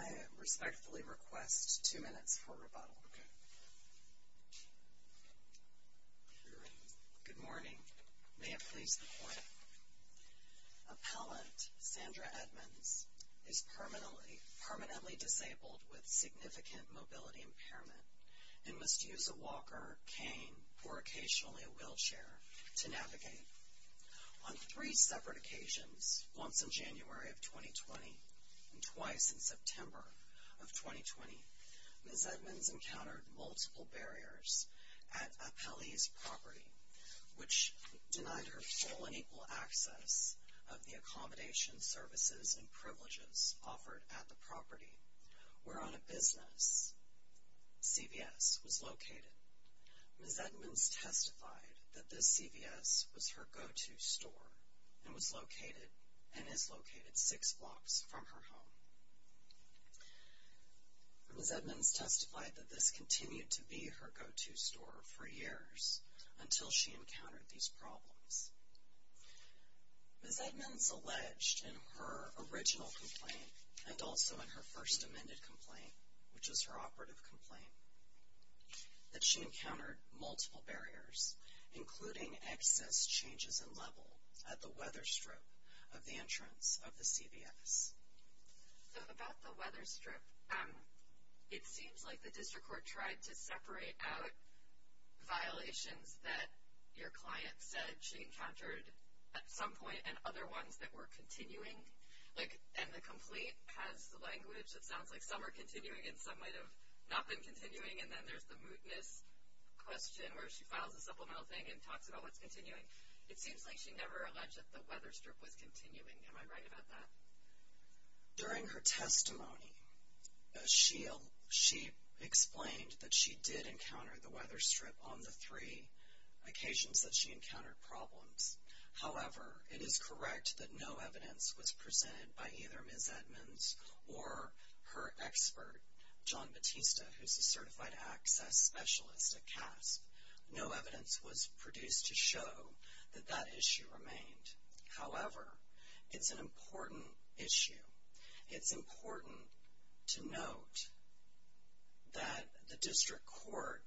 I respectfully request two minutes for rebuttal. Good morning. May it please the court. Appellant Sandra Edmonds is permanently disabled with significant mobility impairment and must use a walker, cane, or occasionally a wheelchair to navigate. On three separate occasions, once in January of 2020 and twice in September of 2020, Ms. Edmonds encountered multiple barriers at Appellee's property, which denied her full and equal access of the accommodation, services, and privileges offered at the property. Where on a business, CVS was located. Ms. Edmonds testified that this CVS was her go-to store and was located and is located six blocks from her home. Ms. Edmonds testified that this continued to be her go-to store for years until she encountered these problems. Ms. Edmonds alleged in her original complaint and also in her first amended complaint, which was her operative complaint, that she encountered multiple barriers, including excess changes in level at the weather strip of the entrance of the CVS. So about the weather strip, it seems like the district court tried to separate out violations that your client said she encountered at some point and other ones that were continuing. Like, and the complaint has the language that sounds like some are continuing and some might have not been continuing, and then there's the mootness question where she files a supplemental thing and talks about what's continuing. It seems like she never alleged that the weather strip was continuing. Am I right about that? During her testimony, she explained that she did encounter the weather strip on the three occasions that she encountered problems. However, it is correct that no evidence was presented by either Ms. Edmonds or her expert, John Batista, who's a certified access specialist at CASP. No evidence was produced to show that that issue remained. However, it's an important issue. It's important to note that the district court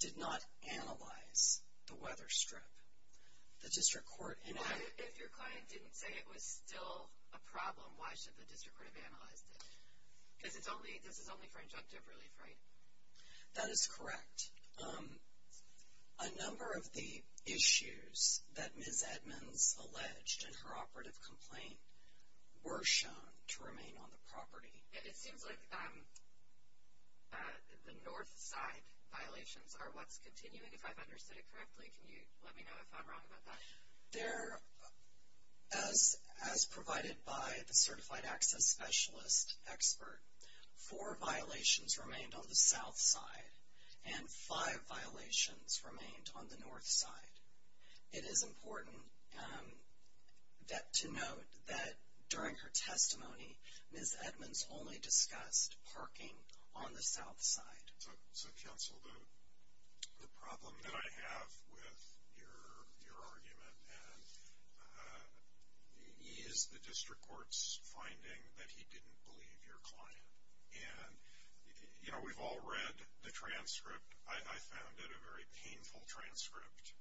did not analyze the weather strip. The district court in- If your client didn't say it was still a problem, why should the district court have analyzed it? Because this is only for injunctive relief, right? That is correct. A number of the issues that Ms. Edmonds alleged in her operative complaint were shown to remain on the property. It seems like the north side violations are what's continuing, if I've understood it correctly. Can you let me know if I'm wrong about that? As provided by the certified access specialist expert, four violations remained on the south side, and five violations remained on the north side. It is important to note that during her testimony, Ms. Edmonds only discussed parking on the south side. So, counsel, the problem that I have with your argument is the district court's finding that he didn't believe your client. And, you know, we've all read the transcript. I found it a very painful transcript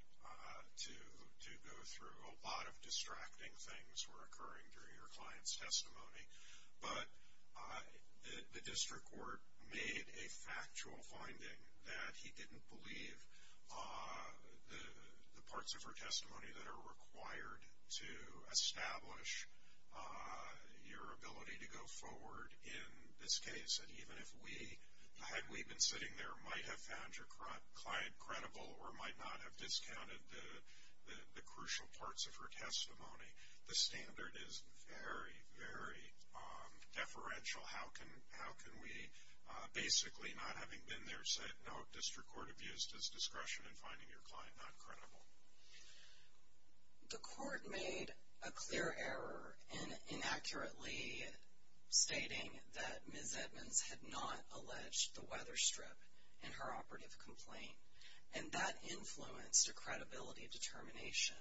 to go through. A lot of distracting things were occurring during your client's testimony. But the district court made a factual finding that he didn't believe the parts of her testimony that are required to establish your ability to go forward in this case. And even if we, had we been sitting there, might have found your client credible or might not have discounted the crucial parts of her testimony, the standard is very, very deferential. How can we, basically not having been there, set no district court abuse as discretion in finding your client not credible? The court made a clear error in inaccurately stating that Ms. Edmonds had not alleged the weather strip in her operative complaint. And that influenced her credibility determination,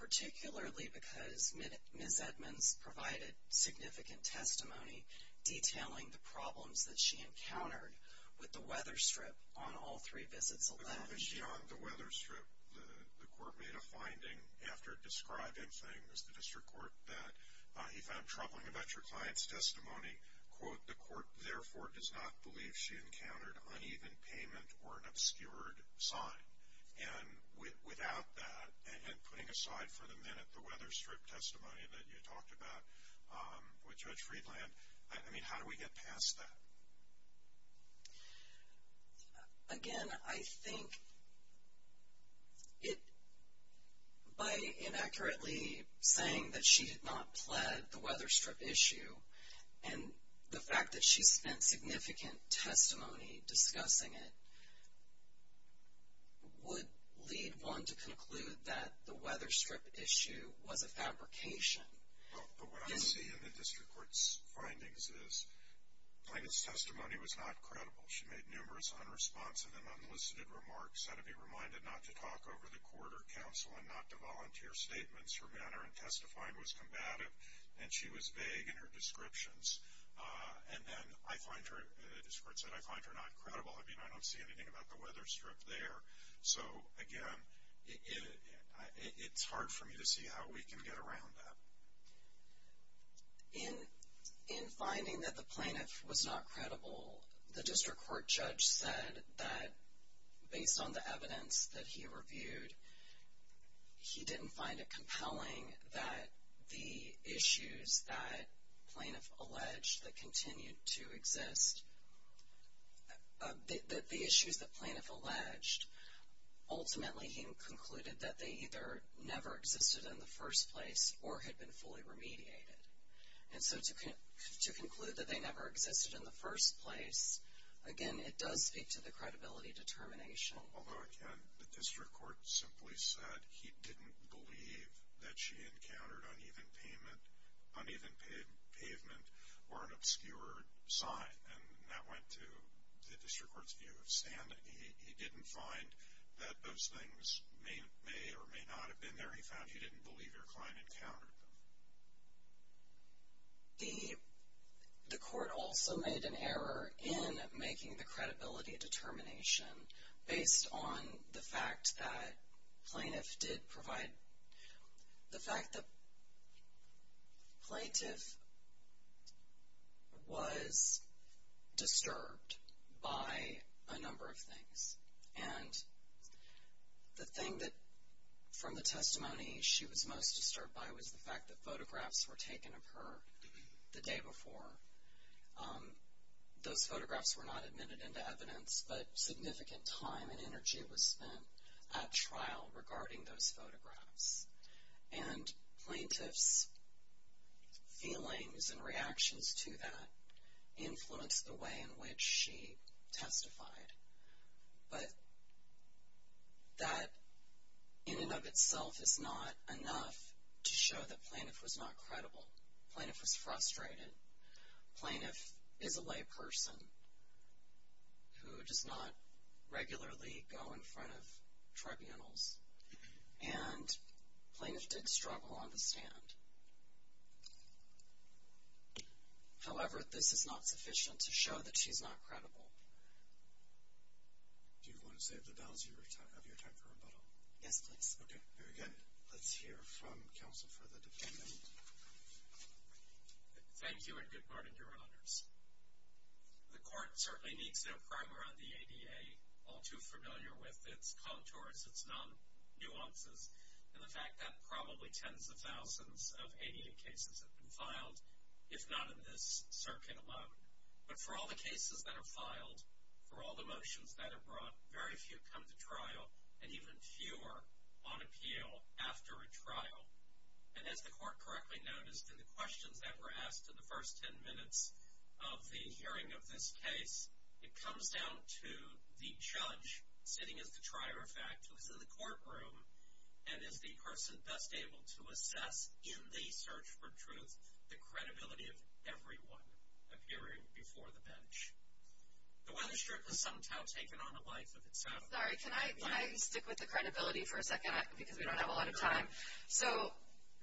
particularly because Ms. Edmonds provided significant testimony detailing the problems that she encountered with the weather strip on all three visits alleged. But on the issue on the weather strip, the court made a finding after describing things, the district court, that he found troubling about your client's testimony. Quote, the court, therefore, does not believe she encountered uneven payment or an obscured sign. And without that, and putting aside for the minute the weather strip testimony that you talked about with Judge Friedland, I mean, how do we get past that? Again, I think it, by inaccurately saying that she had not pled the weather strip issue, and the fact that she spent significant testimony discussing it, would lead one to conclude that the weather strip issue was a fabrication. But what I see in the district court's findings is the client's testimony was not credible. She made numerous unresponsive and unlisted remarks, had to be reminded not to talk over the court or counsel and not to volunteer statements. Her manner in testifying was combative, and she was vague in her descriptions. And then I find her, the district court said, I find her not credible. I mean, I don't see anything about the weather strip there. So, again, it's hard for me to see how we can get around that. In finding that the plaintiff was not credible, the district court judge said that based on the evidence that he reviewed, he didn't find it compelling that the issues that plaintiff alleged that continued to exist, that the issues that plaintiff alleged, ultimately he concluded that they either never existed in the first place or had been fully remediated. And so to conclude that they never existed in the first place, again, it does speak to the credibility determination. Although, again, the district court simply said he didn't believe that she encountered uneven pavement or an obscured sign. And that went to the district court's view of standing. He didn't find that those things may or may not have been there. He found he didn't believe your client encountered them. The court also made an error in making the credibility determination based on the fact that plaintiff did provide, the fact that plaintiff was disturbed by a number of things. And the thing that from the testimony she was most disturbed by was the fact that photographs were taken of her the day before. Those photographs were not admitted into evidence, but significant time and energy was spent at trial regarding those photographs. And plaintiff's feelings and reactions to that influenced the way in which she testified. But that in and of itself is not enough to show that plaintiff was not credible. Plaintiff was frustrated. Plaintiff is a lay person who does not regularly go in front of tribunals. And plaintiff did struggle on the stand. However, this is not sufficient to show that she's not credible. Do you want to save the balance of your time for rebuttal? Yes, please. Okay, very good. Let's hear from counsel for the dependent. Thank you and good morning, Your Honors. The court certainly needs no primer on the ADA. All too familiar with its contours, its non-nuances, and the fact that probably tens of thousands of ADA cases have been filed, if not in this circuit alone. But for all the cases that are filed, for all the motions that are brought, very few come to trial, and even fewer on appeal after a trial. And as the court correctly noticed in the questions that were asked in the first ten minutes of the hearing of this case, it comes down to the judge sitting as the trier of fact who is in the courtroom and is the person best able to assess in the search for truth the credibility of everyone appearing before the bench. The weather strip has somehow taken on a life of itself. Sorry, can I stick with the credibility for a second because we don't have a lot of time? So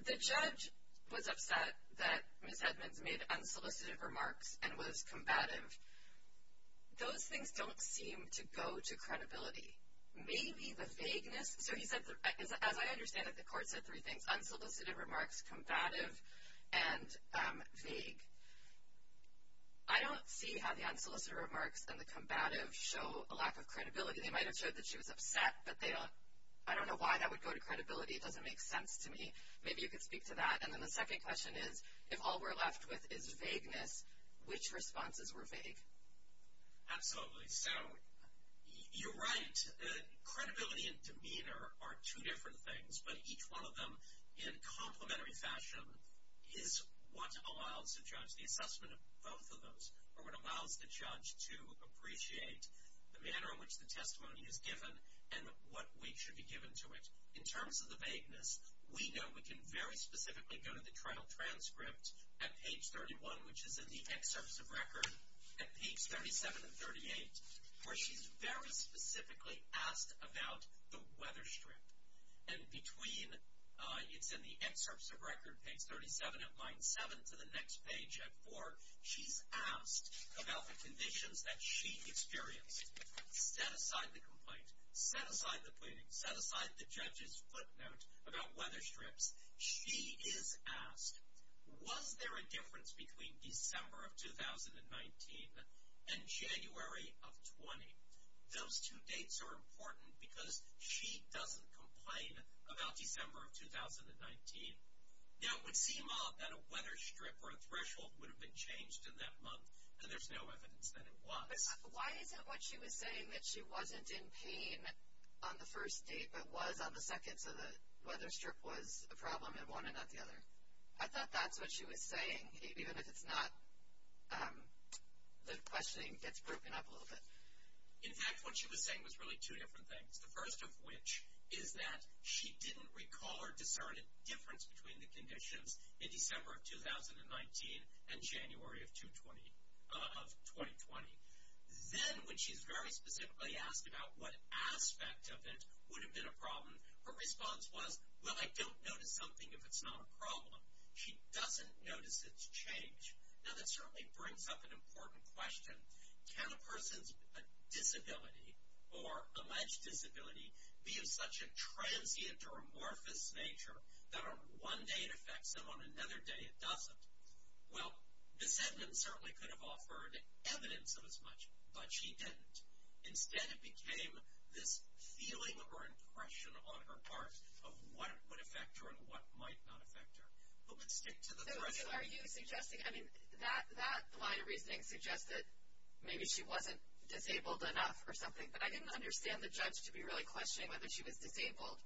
the judge was upset that Ms. Edmonds made unsolicited remarks and was combative. Those things don't seem to go to credibility. Maybe the vagueness, so he said, as I understand it, the court said three things, unsolicited remarks, combative, and vague. I don't see how the unsolicited remarks and the combative show a lack of credibility. They might have showed that she was upset, but I don't know why that would go to credibility. It doesn't make sense to me. Maybe you could speak to that. And then the second question is, if all we're left with is vagueness, which responses were vague? Absolutely. So you're right. Credibility and demeanor are two different things, but each one of them in complementary fashion is what allows the judge the assessment of both of those or what allows the judge to appreciate the manner in which the testimony is given and what weight should be given to it. In terms of the vagueness, we know we can very specifically go to the trial transcript at page 31, which is in the excerpts of record, at pages 37 and 38, where she's very specifically asked about the weather strip. And between, it's in the excerpts of record, page 37 at line 7 to the next page at 4, she's asked about the conditions that she experienced. Set aside the complaint. Set aside the pleading. Set aside the judge's footnote about weather strips. She is asked, was there a difference between December of 2019 and January of 20? Those two dates are important because she doesn't complain about December of 2019. Now, it would seem odd that a weather strip or a threshold would have been changed in that month, and there's no evidence that it was. But why is it what she was saying that she wasn't in pain on the first date but was on the second, so the weather strip was a problem in one and not the other? I thought that's what she was saying, even if it's not, the questioning gets broken up a little bit. In fact, what she was saying was really two different things, the first of which is that she didn't recall or discern a difference between the conditions in December of 2019 and January of 2020. Then, when she's very specifically asked about what aspect of it would have been a problem, her response was, well, I don't notice something if it's not a problem. She doesn't notice it's changed. Now, that certainly brings up an important question. Can a person's disability or alleged disability be of such a transient or amorphous nature that on one day it affects them, on another day it doesn't? Well, this evidence certainly could have offered evidence of as much, but she didn't. Instead, it became this feeling or impression on her part of what would affect her and what might not affect her. But let's stick to the question. So are you suggesting, I mean, that line of reasoning suggests that maybe she wasn't disabled enough or something, but I didn't understand the judge to be really questioning whether she was disabled.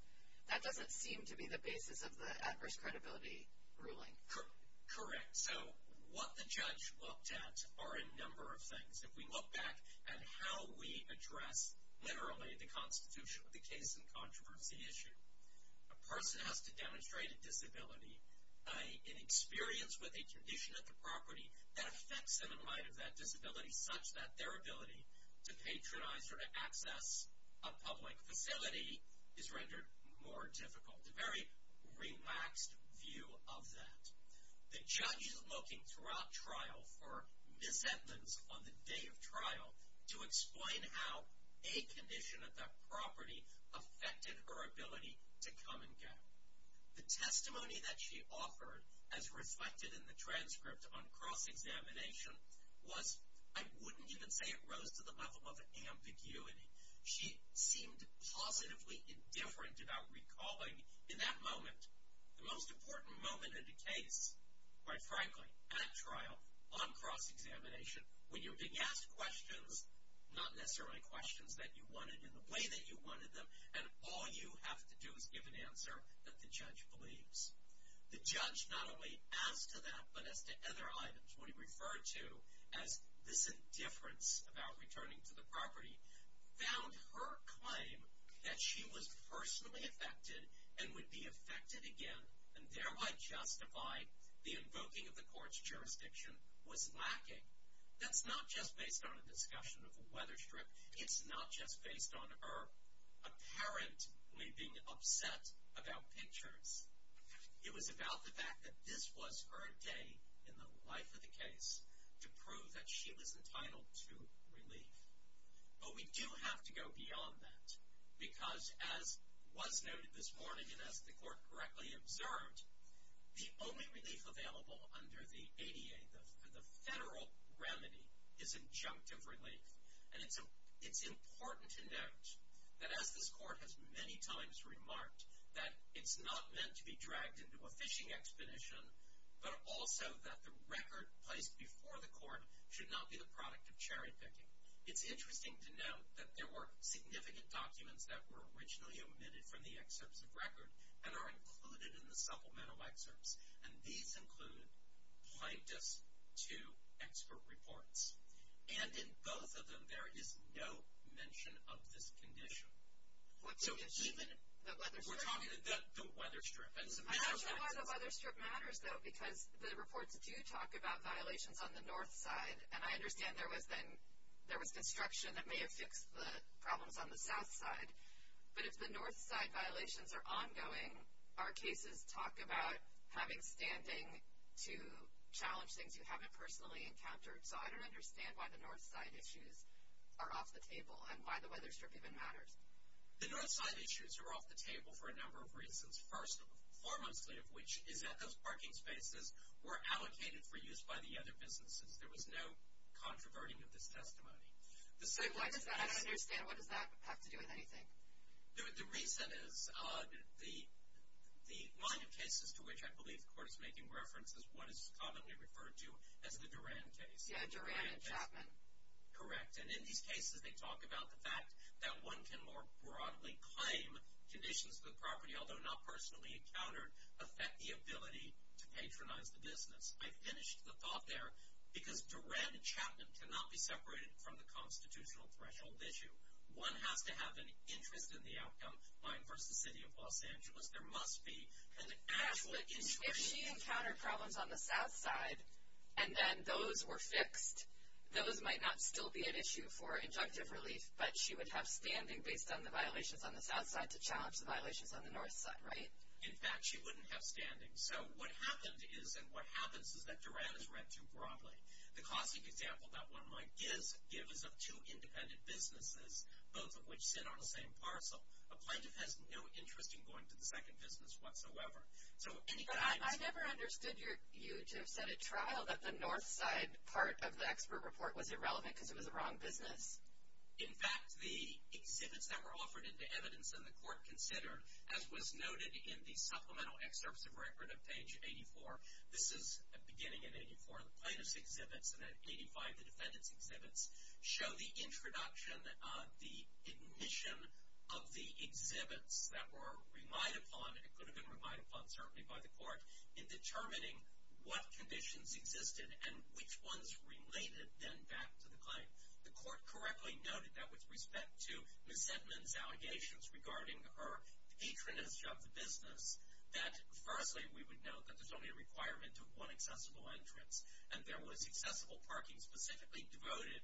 That doesn't seem to be the basis of the adverse credibility ruling. Correct. So what the judge looked at are a number of things. If we look back at how we address literally the constitution of the case and controversy issue, a person has to demonstrate a disability, an experience with a condition at the property, that affects them in light of that disability such that their ability to patronize or to access a public facility is rendered more difficult. A very relaxed view of that. The judge is looking throughout trial for misheadings on the day of trial to explain how a condition at that property affected her ability to come and go. The testimony that she offered as reflected in the transcript on cross-examination was, I wouldn't even say it rose to the level of ambiguity. She seemed positively indifferent about recalling in that moment, the most important moment in the case, quite frankly, at trial on cross-examination, when you began to ask questions, not necessarily questions that you wanted in the way that you wanted them, and all you have to do is give an answer that the judge believes. The judge not only asked to that, but as to other items, what he referred to as this indifference about returning to the property, found her claim that she was personally affected and would be affected again, and thereby justify the invoking of the court's jurisdiction, was lacking. That's not just based on a discussion of a weather strip. It's not just based on her apparently being upset about pictures. It was about the fact that this was her day in the life of the case to prove that she was entitled to relief. But we do have to go beyond that, because as was noted this morning and as the court correctly observed, the only relief available under the ADA, the federal remedy, is injunctive relief. And it's important to note that, as this court has many times remarked, that it's not meant to be dragged into a fishing expedition, but also that the record placed before the court should not be the product of cherry picking. It's interesting to note that there were significant documents that were originally omitted from the excerpts of record and are included in the supplemental excerpts, and these include plaintiffs to expert reports. And in both of them, there is no mention of this condition. So even if we're talking about the weather strip. I'm not sure why the weather strip matters, though, because the reports do talk about violations on the north side, and I understand there was construction that may have fixed the problems on the south side. But if the north side violations are ongoing, our cases talk about having standing to challenge things you haven't personally encountered. So I don't understand why the north side issues are off the table and why the weather strip even matters. The north side issues are off the table for a number of reasons. First, foremostly of which is that those parking spaces were allocated for use by the other businesses. There was no controverting of this testimony. I don't understand. What does that have to do with anything? The reason is the line of cases to which I believe the court is making reference is what is commonly referred to as the Duran case. Yeah, Duran and Chapman. Correct. And in these cases, they talk about the fact that one can more broadly claim conditions of the property, although not personally encountered, affect the ability to patronize the business. I finished the thought there because Duran and Chapman cannot be separated from the constitutional threshold issue. One has to have an interest in the outcome. Mine versus the city of Los Angeles, there must be an absolute interest. If she encountered problems on the south side and then those were fixed, those might not still be an issue for injunctive relief, but she would have standing based on the violations on the south side to challenge the violations on the north side, right? In fact, she wouldn't have standing. So what happened is and what happens is that Duran is read too broadly. The classic example that one might give is of two independent businesses, both of which sit on the same parcel. A plaintiff has no interest in going to the second business whatsoever. I never understood you to have set a trial that the north side part of the expert report was irrelevant because it was the wrong business. In fact, the exhibits that were offered into evidence in the court considered, as was noted in the supplemental excerpts of record of page 84, this is beginning in 84, the plaintiff's exhibits and then 85, the defendant's exhibits, show the introduction, the admission of the exhibits that were reminded upon and it could have been reminded upon certainly by the court, in determining what conditions existed and which ones related then back to the claim. The court correctly noted that with respect to Ms. Sedman's allegations regarding her patronage of the business, that firstly we would note that there's only a requirement of one accessible entrance and there was accessible parking specifically devoted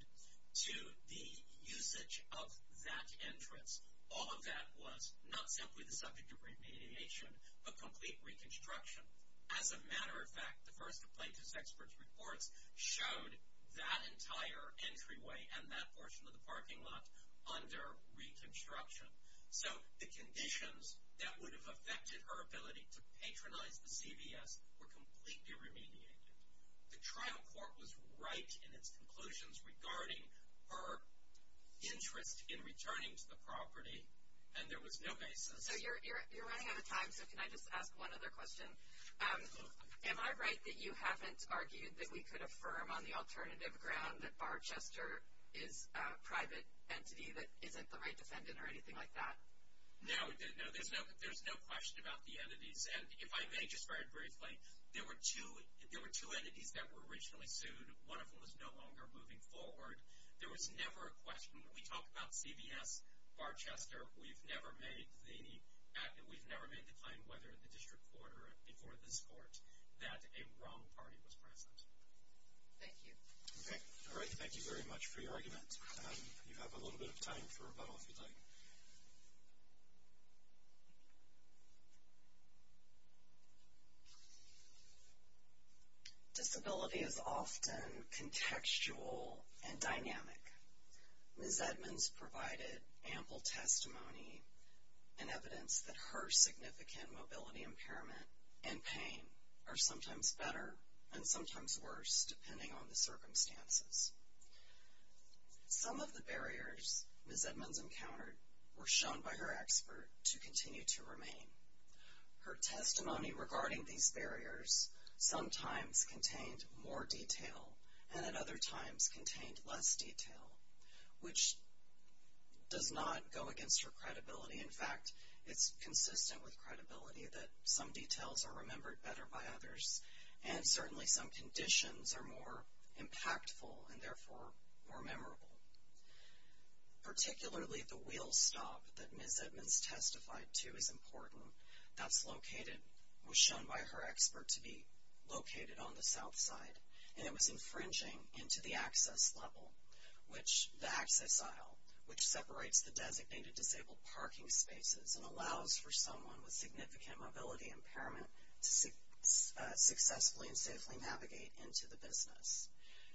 to the usage of that entrance. All of that was not simply the subject of remediation but complete reconstruction. As a matter of fact, the first of Plaintiff's Expert Reports showed that entire entryway and that portion of the parking lot under reconstruction. So the conditions that would have affected her ability to patronize the CVS were completely remediated. The trial court was right in its conclusions regarding her interest in returning to the property and there was no basis. So you're running out of time so can I just ask one other question? Am I right that you haven't argued that we could affirm on the alternative ground that Barb Chester is a private entity that isn't the right defendant or anything like that? No, there's no question about the entities and if I may just very briefly, there were two entities that were originally sued. One of them is no longer moving forward. There was never a question. We talked about CVS, Barb Chester. We've never made the claim whether the district court or before this court that a wrong party was present. Thank you. All right, thank you very much for your argument. You have a little bit of time for a bubble if you'd like. Disability is often contextual and dynamic. Ms. Edmonds provided ample testimony and evidence that her significant mobility impairment and pain are sometimes better and sometimes worse depending on the circumstances. Some of the barriers Ms. Edmonds encountered were shown by her expert to continue to remain. Her testimony regarding these barriers sometimes contained more detail and at other times contained less detail, which does not go against her credibility. In fact, it's consistent with credibility that some details are remembered better by others and certainly some conditions are more impactful and therefore more memorable. Particularly the wheel stop that Ms. Edmonds testified to is important. That's located, was shown by her expert to be located on the south side, and it was infringing into the access level, the access aisle, which separates the designated disabled parking spaces and allows for someone with significant mobility impairment to successfully and safely navigate into the business.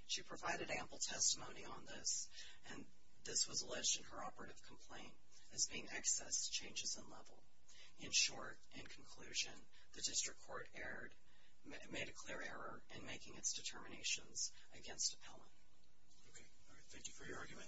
She provided ample testimony on this, and this was alleged in her operative complaint as being excess changes in level. In short, in conclusion, the district court made a clear error in making its determinations against Appellant. Thank you for your argument.